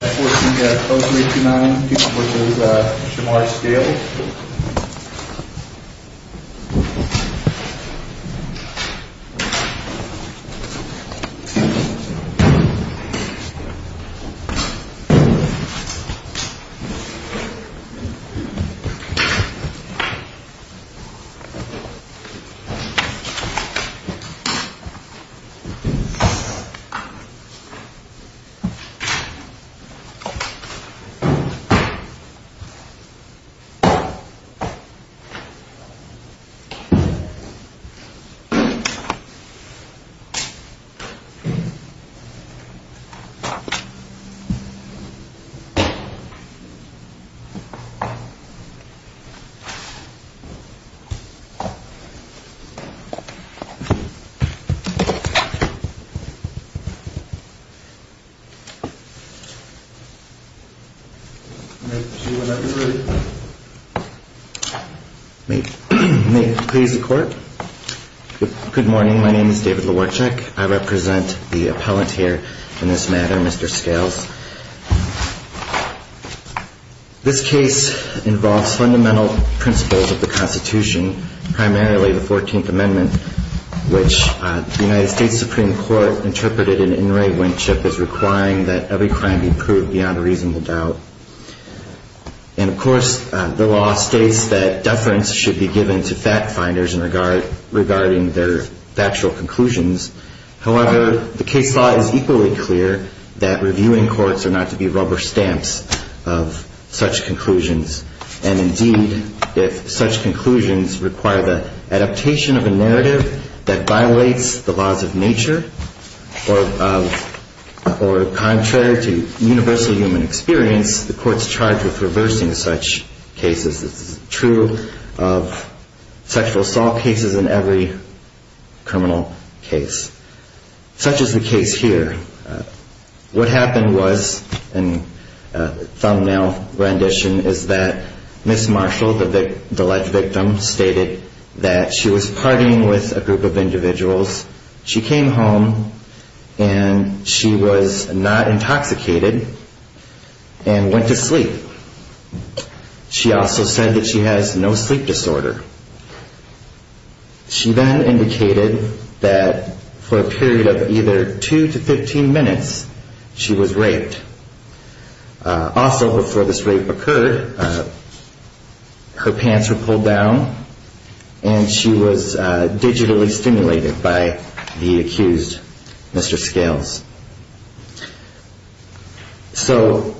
14-0329, which is Shamar's scale. I represent the appellant here in this matter, Mr. Scales. This case involves fundamental principles of the Constitution, primarily the 14th Amendment, which the United States Supreme Court interpreted in In Re Winship as requiring that every crime be proved by a jury. And, of course, the law states that deference should be given to fact-finders regarding their factual conclusions. However, the case law is equally clear that reviewing courts are not to be rubber stamps of such conclusions, and, indeed, if such conclusions require the adaptation of a narrative that violates the laws of nature, or contrary to universal law, the court should be given to fact-finders. In the case of sexual assault cases, in which there is no human experience, the court is charged with reversing such cases. This is true of sexual assault cases in every criminal case, such as the case here. What happened was, in a thumbnail rendition, is that Ms. Marshall, the alleged victim, stated that she was partying with a group of individuals, she came home, and she was not intoxicated, and went to sleep. She also said that she has no sleep disorder. She then indicated that, for a period of either 2 to 15 minutes, she was raped. Also, before this rape occurred, her pants were pulled down, and she was digitally stimulated by the accused, Mr. Scales. So,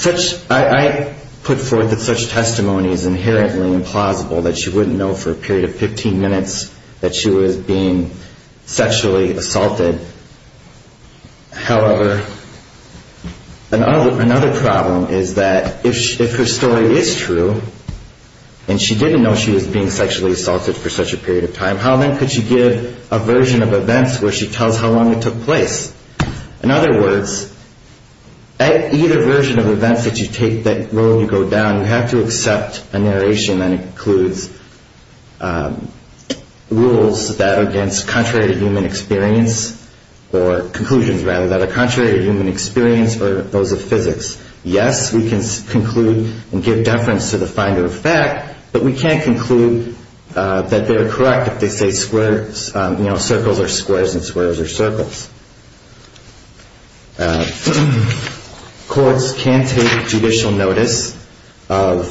I put forth that such testimony is inherently implausible, that she wouldn't know for a period of 15 minutes that she was being sexually assaulted. However, another problem is that, if her story is true, and she didn't know she was being sexually assaulted for such a period of time, how then could she give a version of events where she tells how long it took place? In other words, at either version of events that you take, that role you go down, you have to accept a narration that includes rules that are contrary to human experience, or conclusions, rather, that are contrary to human experience, or those of physics. Yes, we can conclude and give deference to the finder of fact, but we can't conclude that they're correct if they say circles are squares and squares are circles. Courts can take judicial notice of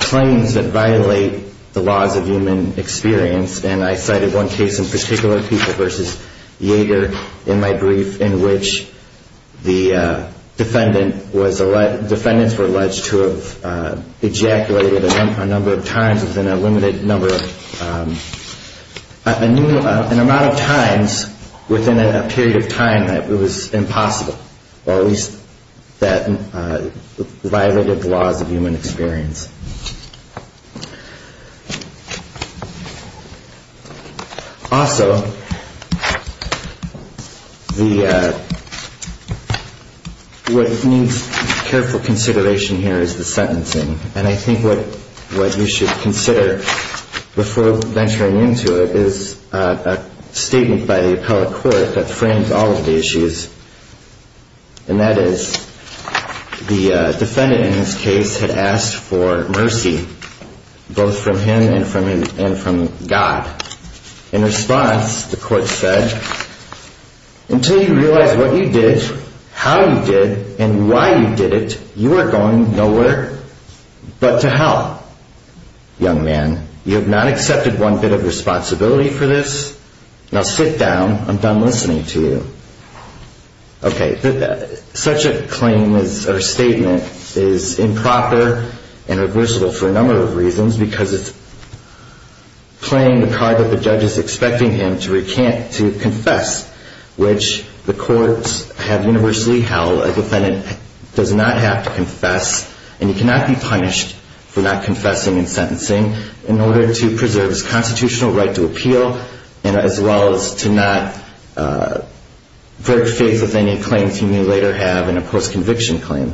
claims that violate the laws of human experience, and I cited one case in particular, People v. Yager, in my brief, in which the defendants were alleged to have ejaculated a number of times within a limited number of... An amount of times within a period of time that it was impossible, or at least that violated the laws of human experience. Also, what needs careful consideration here is the sentencing, and I think what you should consider before venturing into it is a statement by the appellate court that frames all of the issues. And that is, the defendant in this case had asked for mercy, both from him and from God. In response, the court said, until you realize what you did, how you did, and why you did it, you are going nowhere but to hell. Young man, you have not accepted one bit of responsibility for this. Now sit down, I'm done listening to you. Okay, such a claim or statement is improper and reversible for a number of reasons, because it's playing the card that the judge is expecting him to confess, which the courts have universally held. A defendant does not have to confess, and he cannot be punished for not confessing and sentencing in order to preserve his constitutional right to appeal, as well as to not break faith with any claims he may later have in a post-conviction claim.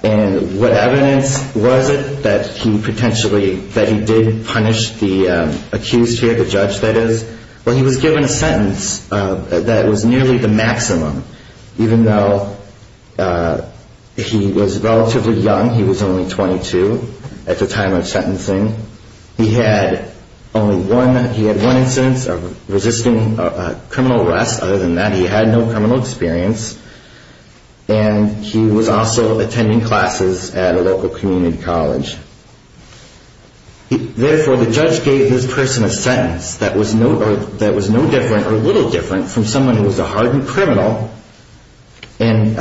And what evidence was it that he potentially, that he did punish the accused here, the judge, that is? Well, he was given a sentence that was nearly the maximum, even though he was relatively young, he was only 22 at the time of sentencing. He had only one, he had one instance of resisting criminal arrest, other than that he had no criminal experience, and he was also attending classes at a local community college. Therefore, the judge gave this person a sentence that was no different or a little different from someone who was a hardened criminal, and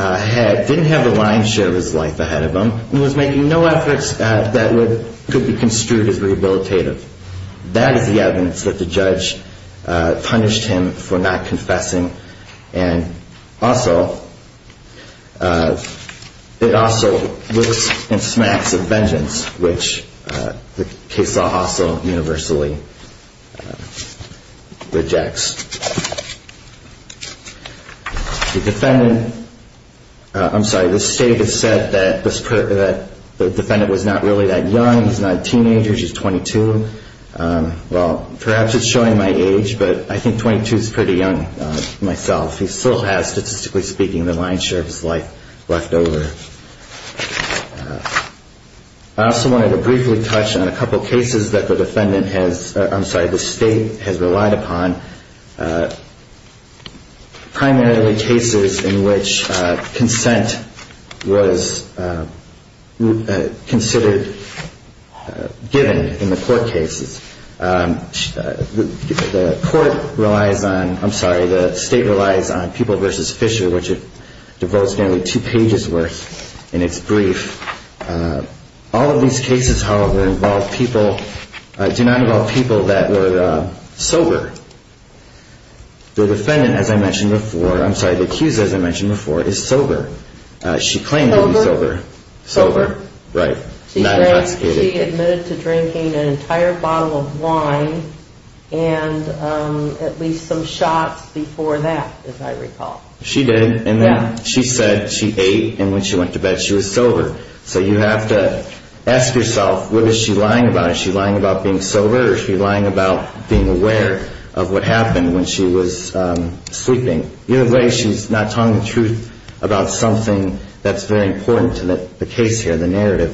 didn't have a lion's share of his life ahead of him, and was making no efforts that could be construed as rehabilitative. That is the evidence that the judge punished him for not confessing, and also, it also was in smacks of vengeance, which the case law also universally rejects. The defendant, I'm sorry, the state has said that the defendant was not really that young, he's not a teenager, he's 22. Well, perhaps it's showing my age, but I think 22 is pretty young myself. He still has, statistically speaking, the lion's share of his life left over. I also wanted to briefly touch on a couple of cases that the defendant has, I'm sorry, the state has relied upon, primarily cases in which consent was considered given in the court cases. The court relies on, I'm sorry, the state relies on People v. Fisher, which it devotes nearly two pages worth in its brief. All of these cases, however, involve people, do not involve people that were sober. The defendant, as I mentioned before, I'm sorry, the accused, as I mentioned before, is sober. She claimed to be sober. Sober. Right. Not intoxicated. She admitted to drinking an entire bottle of wine and at least some shots before that, as I recall. She did. Yeah. She said she ate and when she went to bed she was sober. So you have to ask yourself, what is she lying about? Is she lying about being sober or is she lying about being aware of what happened when she was sleeping? Either way, she's not telling the truth about something that's very important to the case here, the narrative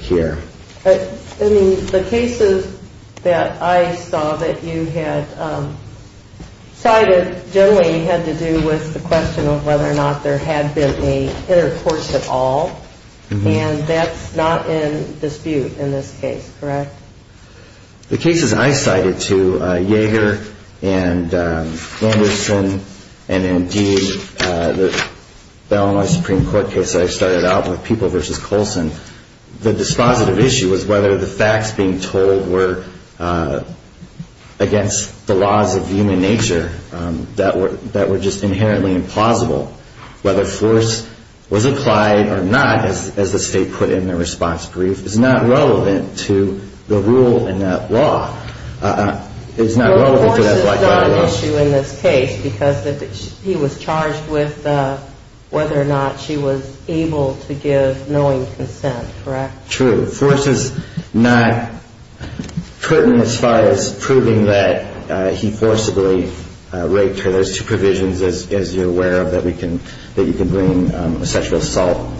here. I mean, the cases that I saw that you had cited generally had to do with the question of whether or not there had been an intercourse at all. And that's not in dispute in this case, correct? The cases I cited to Yeager and Anderson and indeed the Illinois Supreme Court case I started out with, People v. Colson, the dispositive issue was whether the facts being told were against the laws of human nature that were just inherently implausible. Whether force was applied or not, as the State put in their response brief, is not relevant to the rule in that law. It's not relevant to that black eye law. Well, force is not an issue in this case because he was charged with whether or not she was able to give knowing consent, correct? True. But force is not put in as far as proving that he forcibly raped her. There's two provisions, as you're aware of, that you can bring a sexual assault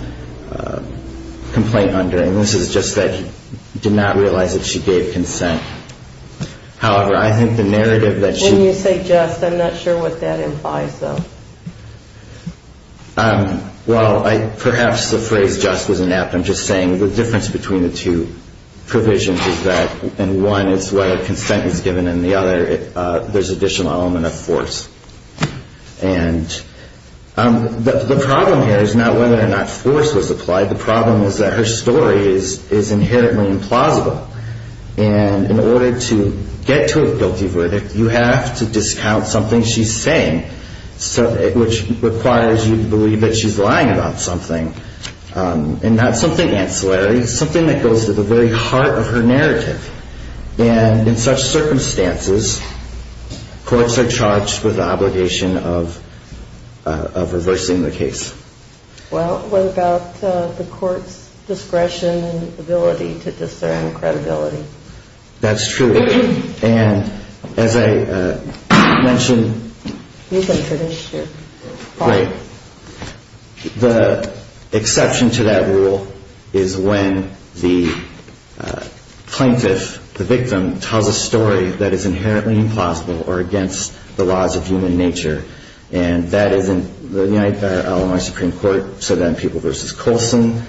complaint under. And this is just that he did not realize that she gave consent. However, I think the narrative that she... When you say just, I'm not sure what that implies, though. Well, perhaps the phrase just was inept. I'm just saying the difference between the two provisions is that in one it's whether consent is given and in the other there's additional element of force. And the problem here is not whether or not force was applied. The problem is that her story is inherently implausible. And in order to get to a guilty verdict, you have to discount something she's saying, which requires you to believe that she's lying about something. And not something ancillary, something that goes to the very heart of her narrative. And in such circumstances, courts are charged with the obligation of reversing the case. Well, what about the court's discretion and ability to discern credibility? That's true. And as I mentioned... You can finish your point. The exception to that rule is when the plaintiff, the victim, tells a story that is inherently implausible or against the laws of human nature. And that is in the United States Supreme Court, Sudan People v. Colson.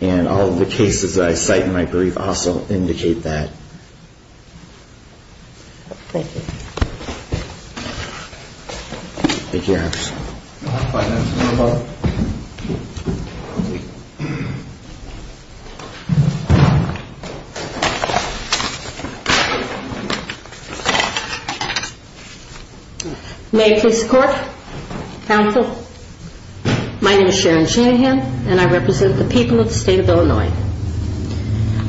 And all of the cases that I cite in my brief also indicate that. Thank you. Thank you, Your Honor. My name is Sharon Shanahan, and I represent the people of the state of Illinois.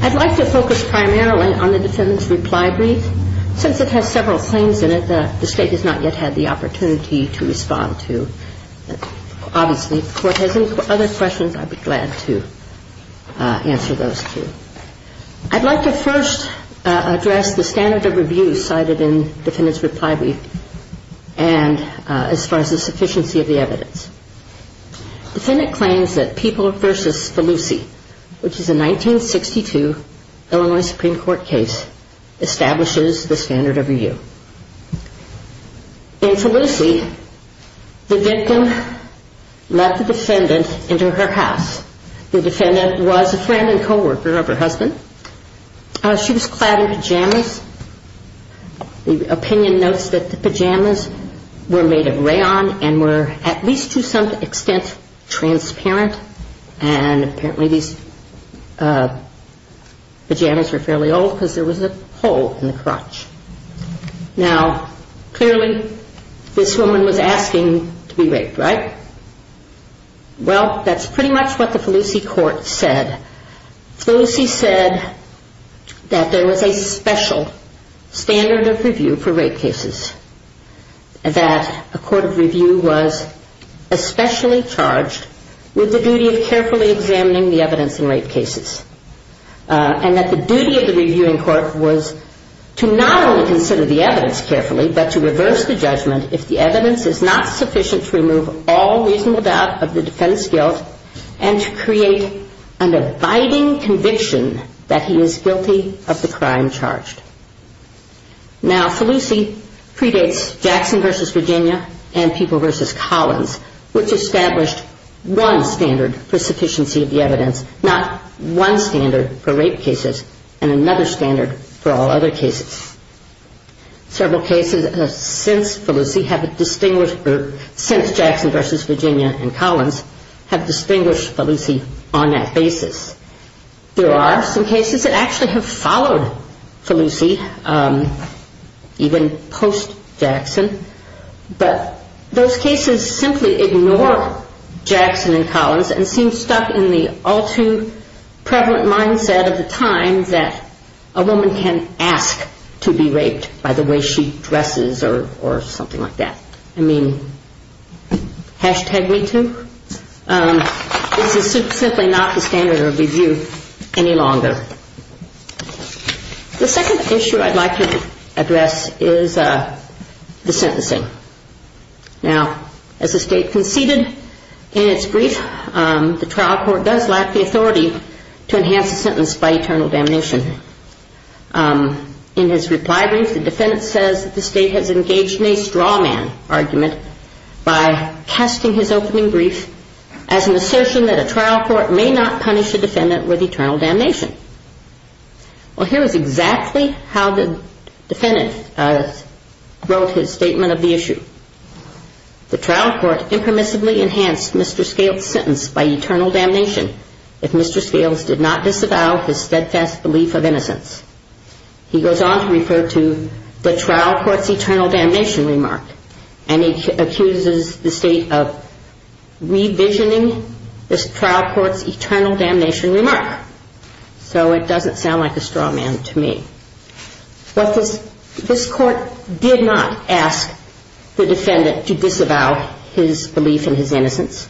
I'd like to focus primarily on the defendant's reply brief, since it has several claims in it that the State has not yet had the opportunity to respond to. Obviously, if the Court has any other questions, I'd be glad to answer those, too. I'd like to first address the standard of review cited in the defendant's reply brief, and as far as the sufficiency of the evidence. The defendant claims that People v. Felucci, which is a 1962 Illinois Supreme Court case, establishes the standard of review. In Felucci, the victim let the defendant into her house. The defendant was a friend and co-worker of her husband. She was clad in pajamas. The opinion notes that the pajamas were made of rayon and were at least to some extent transparent, and apparently these pajamas were fairly old because there was a hole in the crotch. Now, clearly, this woman was asking to be raped, right? Well, that's pretty much what the Felucci Court said. Felucci said that there was a special standard of review for rape cases, that a court of review was especially charged with the duty of carefully examining the evidence in rape cases, and that the duty of the reviewing court was to not only consider the evidence carefully, but to reverse the judgment if the evidence is not sufficient to remove all reasonable doubt of the defendant's guilt and to create an abiding conviction that he is guilty of the crime charged. Now, Felucci predates Jackson v. Virginia and People v. Collins, which established one standard for sufficiency of the evidence, not one standard for rape cases and another standard for all other cases. Several cases since Felucci have distinguished, or since Jackson v. Virginia and Collins, have distinguished Felucci on that basis. There are some cases that actually have followed Felucci, even post-Jackson, but those cases simply ignore Jackson and Collins and seem stuck in the all-too-prevalent mindset of the time that a woman can ask to be raped by the way she dresses or something like that. I mean, hashtag me too? This is simply not the standard of review any longer. The second issue I'd like to address is the sentencing. Now, as the State conceded in its brief, the trial court does lack the authority to enhance the sentence by eternal damnation. In his reply brief, the defendant says that the State has engaged in a straw man argument by casting his opening brief as an assertion that a trial court may not punish a defendant with eternal damnation. Well, here is exactly how the defendant wrote his statement of the issue. The trial court impermissibly enhanced Mr. Scales' sentence by eternal damnation if Mr. Scales did not disavow his steadfast belief of innocence. He goes on to refer to the trial court's eternal damnation remark and he accuses the State of revisioning this trial court's eternal damnation remark. So it doesn't sound like a straw man to me. But this court did not ask the defendant to disavow his belief in his innocence.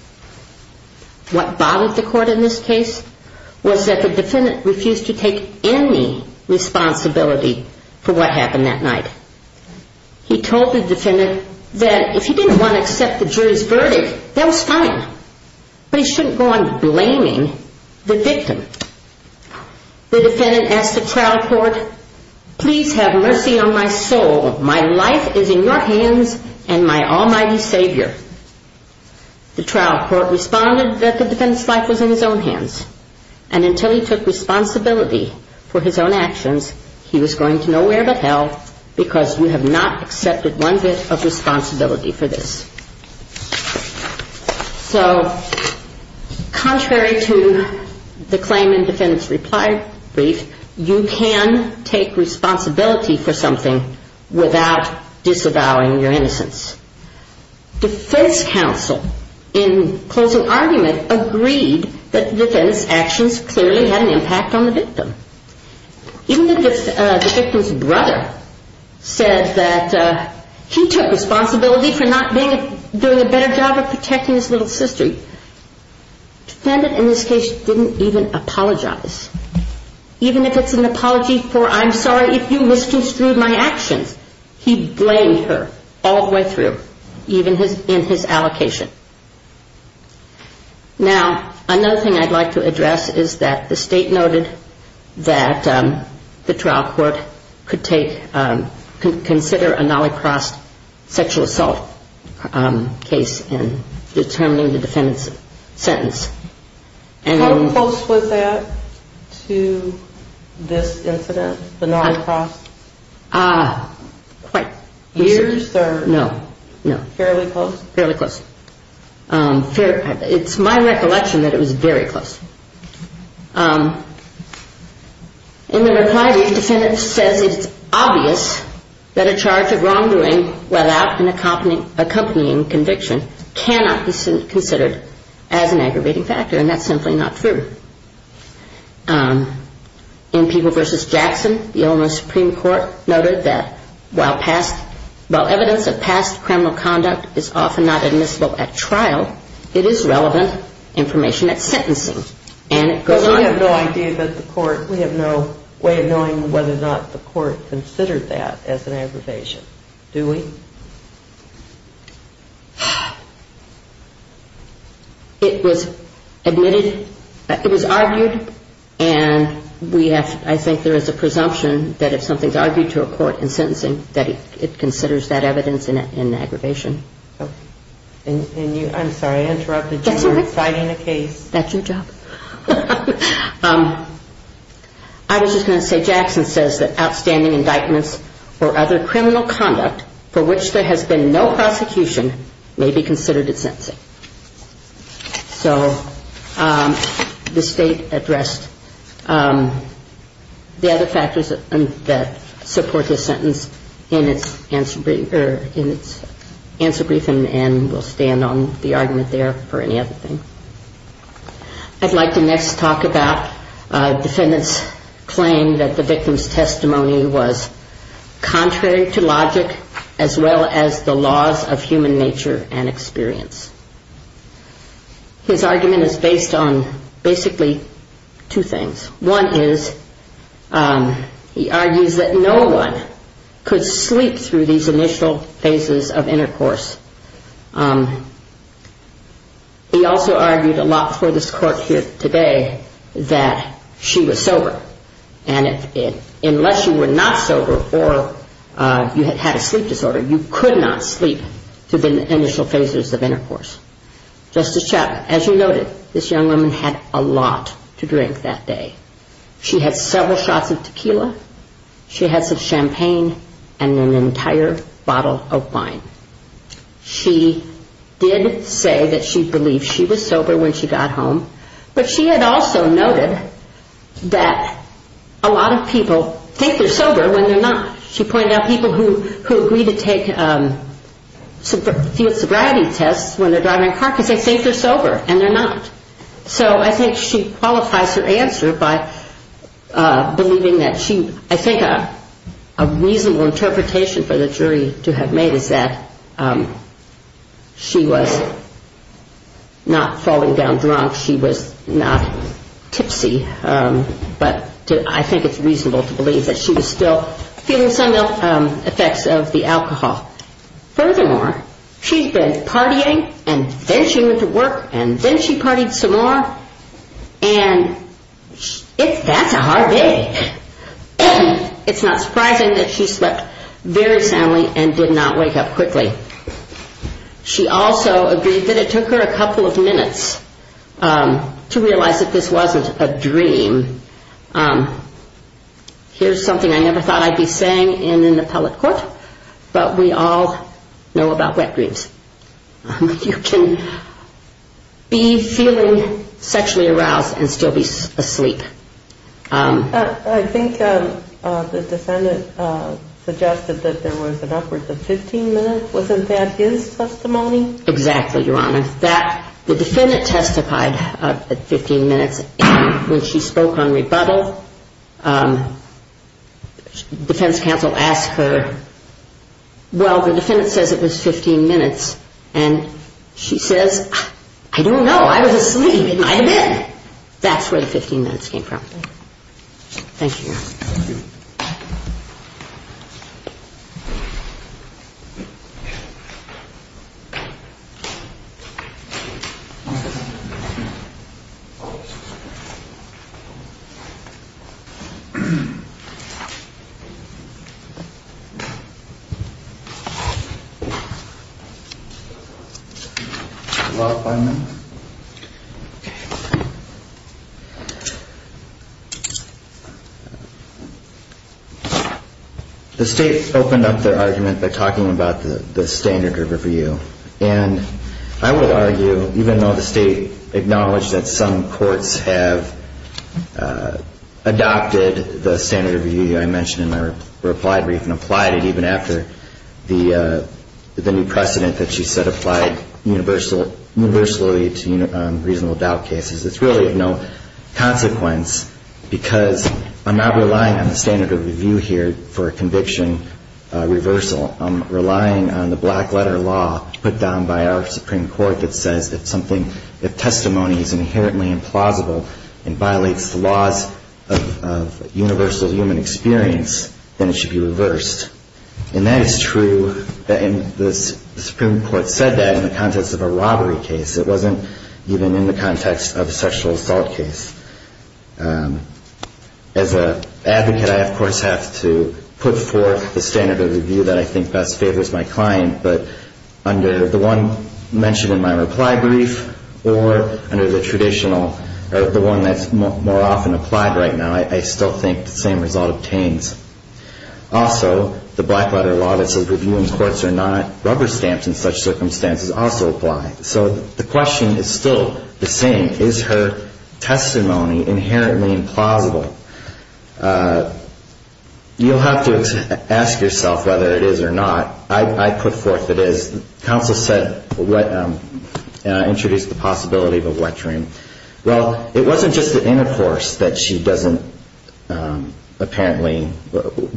What bothered the court in this case was that the defendant refused to take any responsibility for what happened that night. He told the defendant that if he didn't want to accept the jury's verdict, that was fine. But he shouldn't go on blaming the victim. The defendant asked the trial court, please have mercy on my soul. My life is in your hands and my almighty savior. The trial court responded that the defendant's life was in his own hands and until he took responsibility for his own actions, he was going to know where but hell because you have not accepted one bit of responsibility for this. So contrary to the claimant defendant's reply brief, you can take responsibility for something without disavowing your innocence. Defense counsel in closing argument agreed that the defendant's actions clearly had an impact on the victim. Even if the victim's brother said that he took responsibility for not doing a better job of protecting his little sister, the defendant in this case didn't even apologize. Even if it's an apology for I'm sorry if you misconstrued my actions, he blamed her all the way through, even in his allocation. Now, another thing I'd like to address is that the state noted that the trial court could take, could consider a nollicross sexual assault case in determining the defendant's sentence. How close was that to this incident, the nollicross? Quite. Years or fairly close? Fairly close. It's my recollection that it was very close. In the reply brief, the defendant says it's obvious that a charge of wrongdoing without an accompanying conviction cannot be considered as an aggravating factor, and that's simply not true. In People v. Jackson, the Illinois Supreme Court noted that while past, criminal conduct is often not admissible at trial, it is relevant information at sentencing. Because we have no idea that the court, we have no way of knowing whether or not the court considered that as an aggravation. Do we? It was admitted, it was argued, and we have, I think there is a presumption that if something is argued to a court in sentencing, that it considers that evidence an aggravation. I'm sorry, I interrupted you. That's all right. You're citing a case. That's your job. I was just going to say Jackson says that outstanding indictments for other criminal conduct for which there has been no prosecution may be considered at sentencing. So the state addressed the other factors that support this sentence in its answer brief, and we'll stand on the argument there for any other thing. I'd like to next talk about defendants' claim that the victim's testimony was contrary to logic as well as the laws of human nature and experience. His argument is based on basically two things. One is he argues that no one could sleep through these initial phases of intercourse. He also argued a lot for this court here today that she was sober, and unless you were not sober or you had had a sleep disorder, you could not sleep through the initial phases of intercourse. Justice Chappell, as you noted, this young woman had a lot to drink that day. She had several shots of tequila. She had some champagne and an entire bottle of wine. She did say that she believed she was sober when she got home, but she had also noted that a lot of people think they're sober when they're not. She pointed out people who agree to take field sobriety tests when they're driving a car because they think they're sober and they're not. So I think she qualifies her answer by believing that she, I think a reasonable interpretation for the jury to have made is that she was not falling down drunk. She was not tipsy, but I think it's reasonable to believe that she was still feeling some effects of the alcohol. Furthermore, she'd been partying and then she went to work and then she partied some more, and that's a hard day. It's not surprising that she slept very soundly and did not wake up quickly. She also agreed that it took her a couple of minutes to realize that this wasn't a dream. Here's something I never thought I'd be saying in an appellate court, but we all know about wet dreams. You can be feeling sexually aroused and still be asleep. I think the defendant suggested that there was an upward of 15 minutes. Wasn't that his testimony? Exactly, Your Honor. The defendant testified at 15 minutes and when she spoke on rebuttal, defense counsel asked her, well, the defendant says it was 15 minutes, and she says, I don't know. I was asleep. It might have been. That's where the 15 minutes came from. Thank you, Your Honor. Thank you. Thank you. The law finding. Okay. The state opened up their argument by talking about the standard of review, and I will argue, even though the state acknowledged that some courts have adopted the standard of review I mentioned in my reply brief and applied it even after the new precedent that she said universally to reasonable doubt cases. It's really of no consequence because I'm not relying on the standard of review here for a conviction reversal. I'm relying on the black letter law put down by our Supreme Court that says if something, if testimony is inherently implausible and violates the laws of universal human experience, then it should be reversed. And that is true, and the Supreme Court said that in the context of a robbery case. It wasn't even in the context of a sexual assault case. As an advocate, I, of course, have to put forth the standard of review that I think best favors my client, but under the one mentioned in my reply brief or under the traditional, or the one that's more often applied right now, I still think the same result obtains. Also, the black letter law that says review in courts are not rubber stamped in such circumstances also applies. So the question is still the same. Is her testimony inherently implausible? You'll have to ask yourself whether it is or not. I put forth that as counsel said, introduced the possibility of a wet dream. Well, it wasn't just the intercourse that she doesn't apparently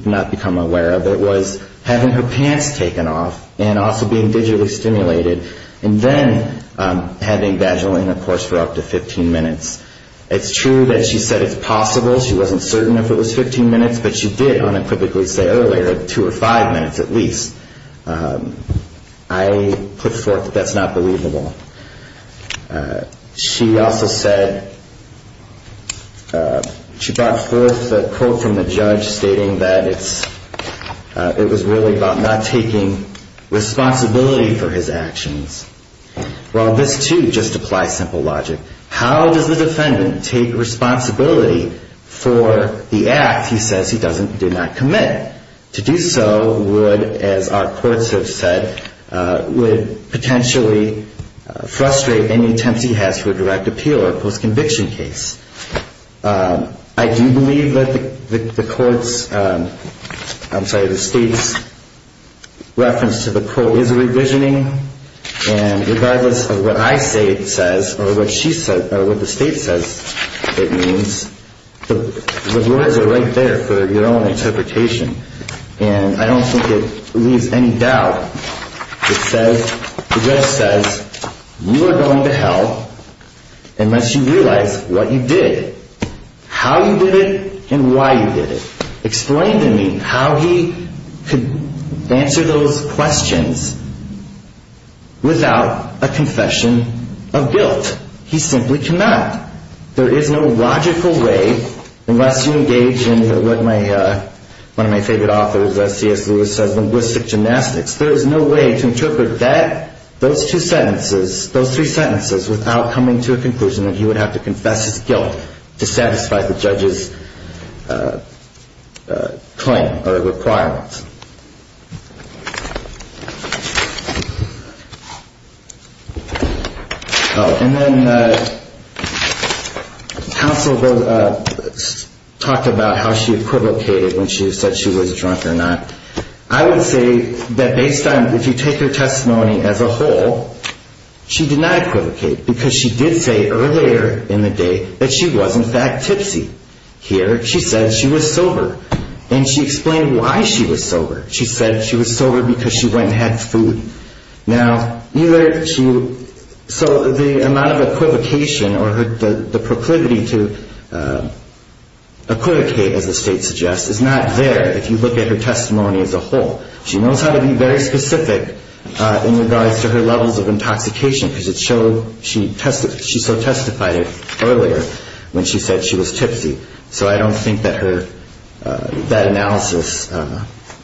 not become aware of. It was having her pants taken off and also being digitally stimulated, and then having vaginal intercourse for up to 15 minutes. It's true that she said it's possible. She wasn't certain if it was 15 minutes, but she did unequivocally say earlier two or five minutes at least. I put forth that that's not believable. She also said, she brought forth a quote from the judge stating that it's, it was really about not taking responsibility for his actions. Well, this too just applies simple logic. How does the defendant take responsibility for the act he says he doesn't, do not commit? And to do so would, as our courts have said, would potentially frustrate any attempts he has for a direct appeal or post-conviction case. I do believe that the court's, I'm sorry, the state's reference to the quote is a revisioning. And regardless of what I say it says or what she said or what the state says it means, the words are right there for your own interpretation. And I don't think it leaves any doubt. It says, the judge says, you are going to hell unless you realize what you did, how you did it, and why you did it. Explain to me how he could answer those questions without a confession of guilt. He simply cannot. There is no logical way, unless you engage in what one of my favorite authors, C.S. Lewis, says, linguistic gymnastics. There is no way to interpret that, those two sentences, those three sentences, without coming to a conclusion that he would have to confess his guilt to satisfy the judge's claim or requirements. And then counsel talked about how she equivocated when she said she was drunk or not. I would say that based on, if you take her testimony as a whole, she did not equivocate. Because she did say earlier in the day that she was in fact tipsy. Here she said she was sober. And she explained why she was sober. She said she was sober because she went and had food. Now, either she, so the amount of equivocation or the proclivity to equivocate, as the state suggests, is not there if you look at her testimony as a whole. She knows how to be very specific in regards to her levels of intoxication, because it showed she so testified earlier when she said she was tipsy. So I don't think that her, that analysis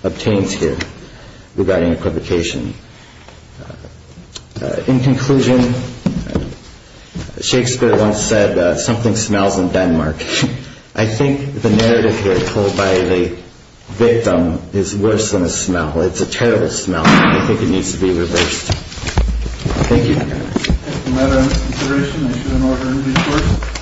obtains here regarding equivocation. In conclusion, Shakespeare once said, something smells in Denmark. I think the narrative here told by the victim is worse than a smell. It's a terrible smell, and I think it needs to be reversed. Thank you. Thank you.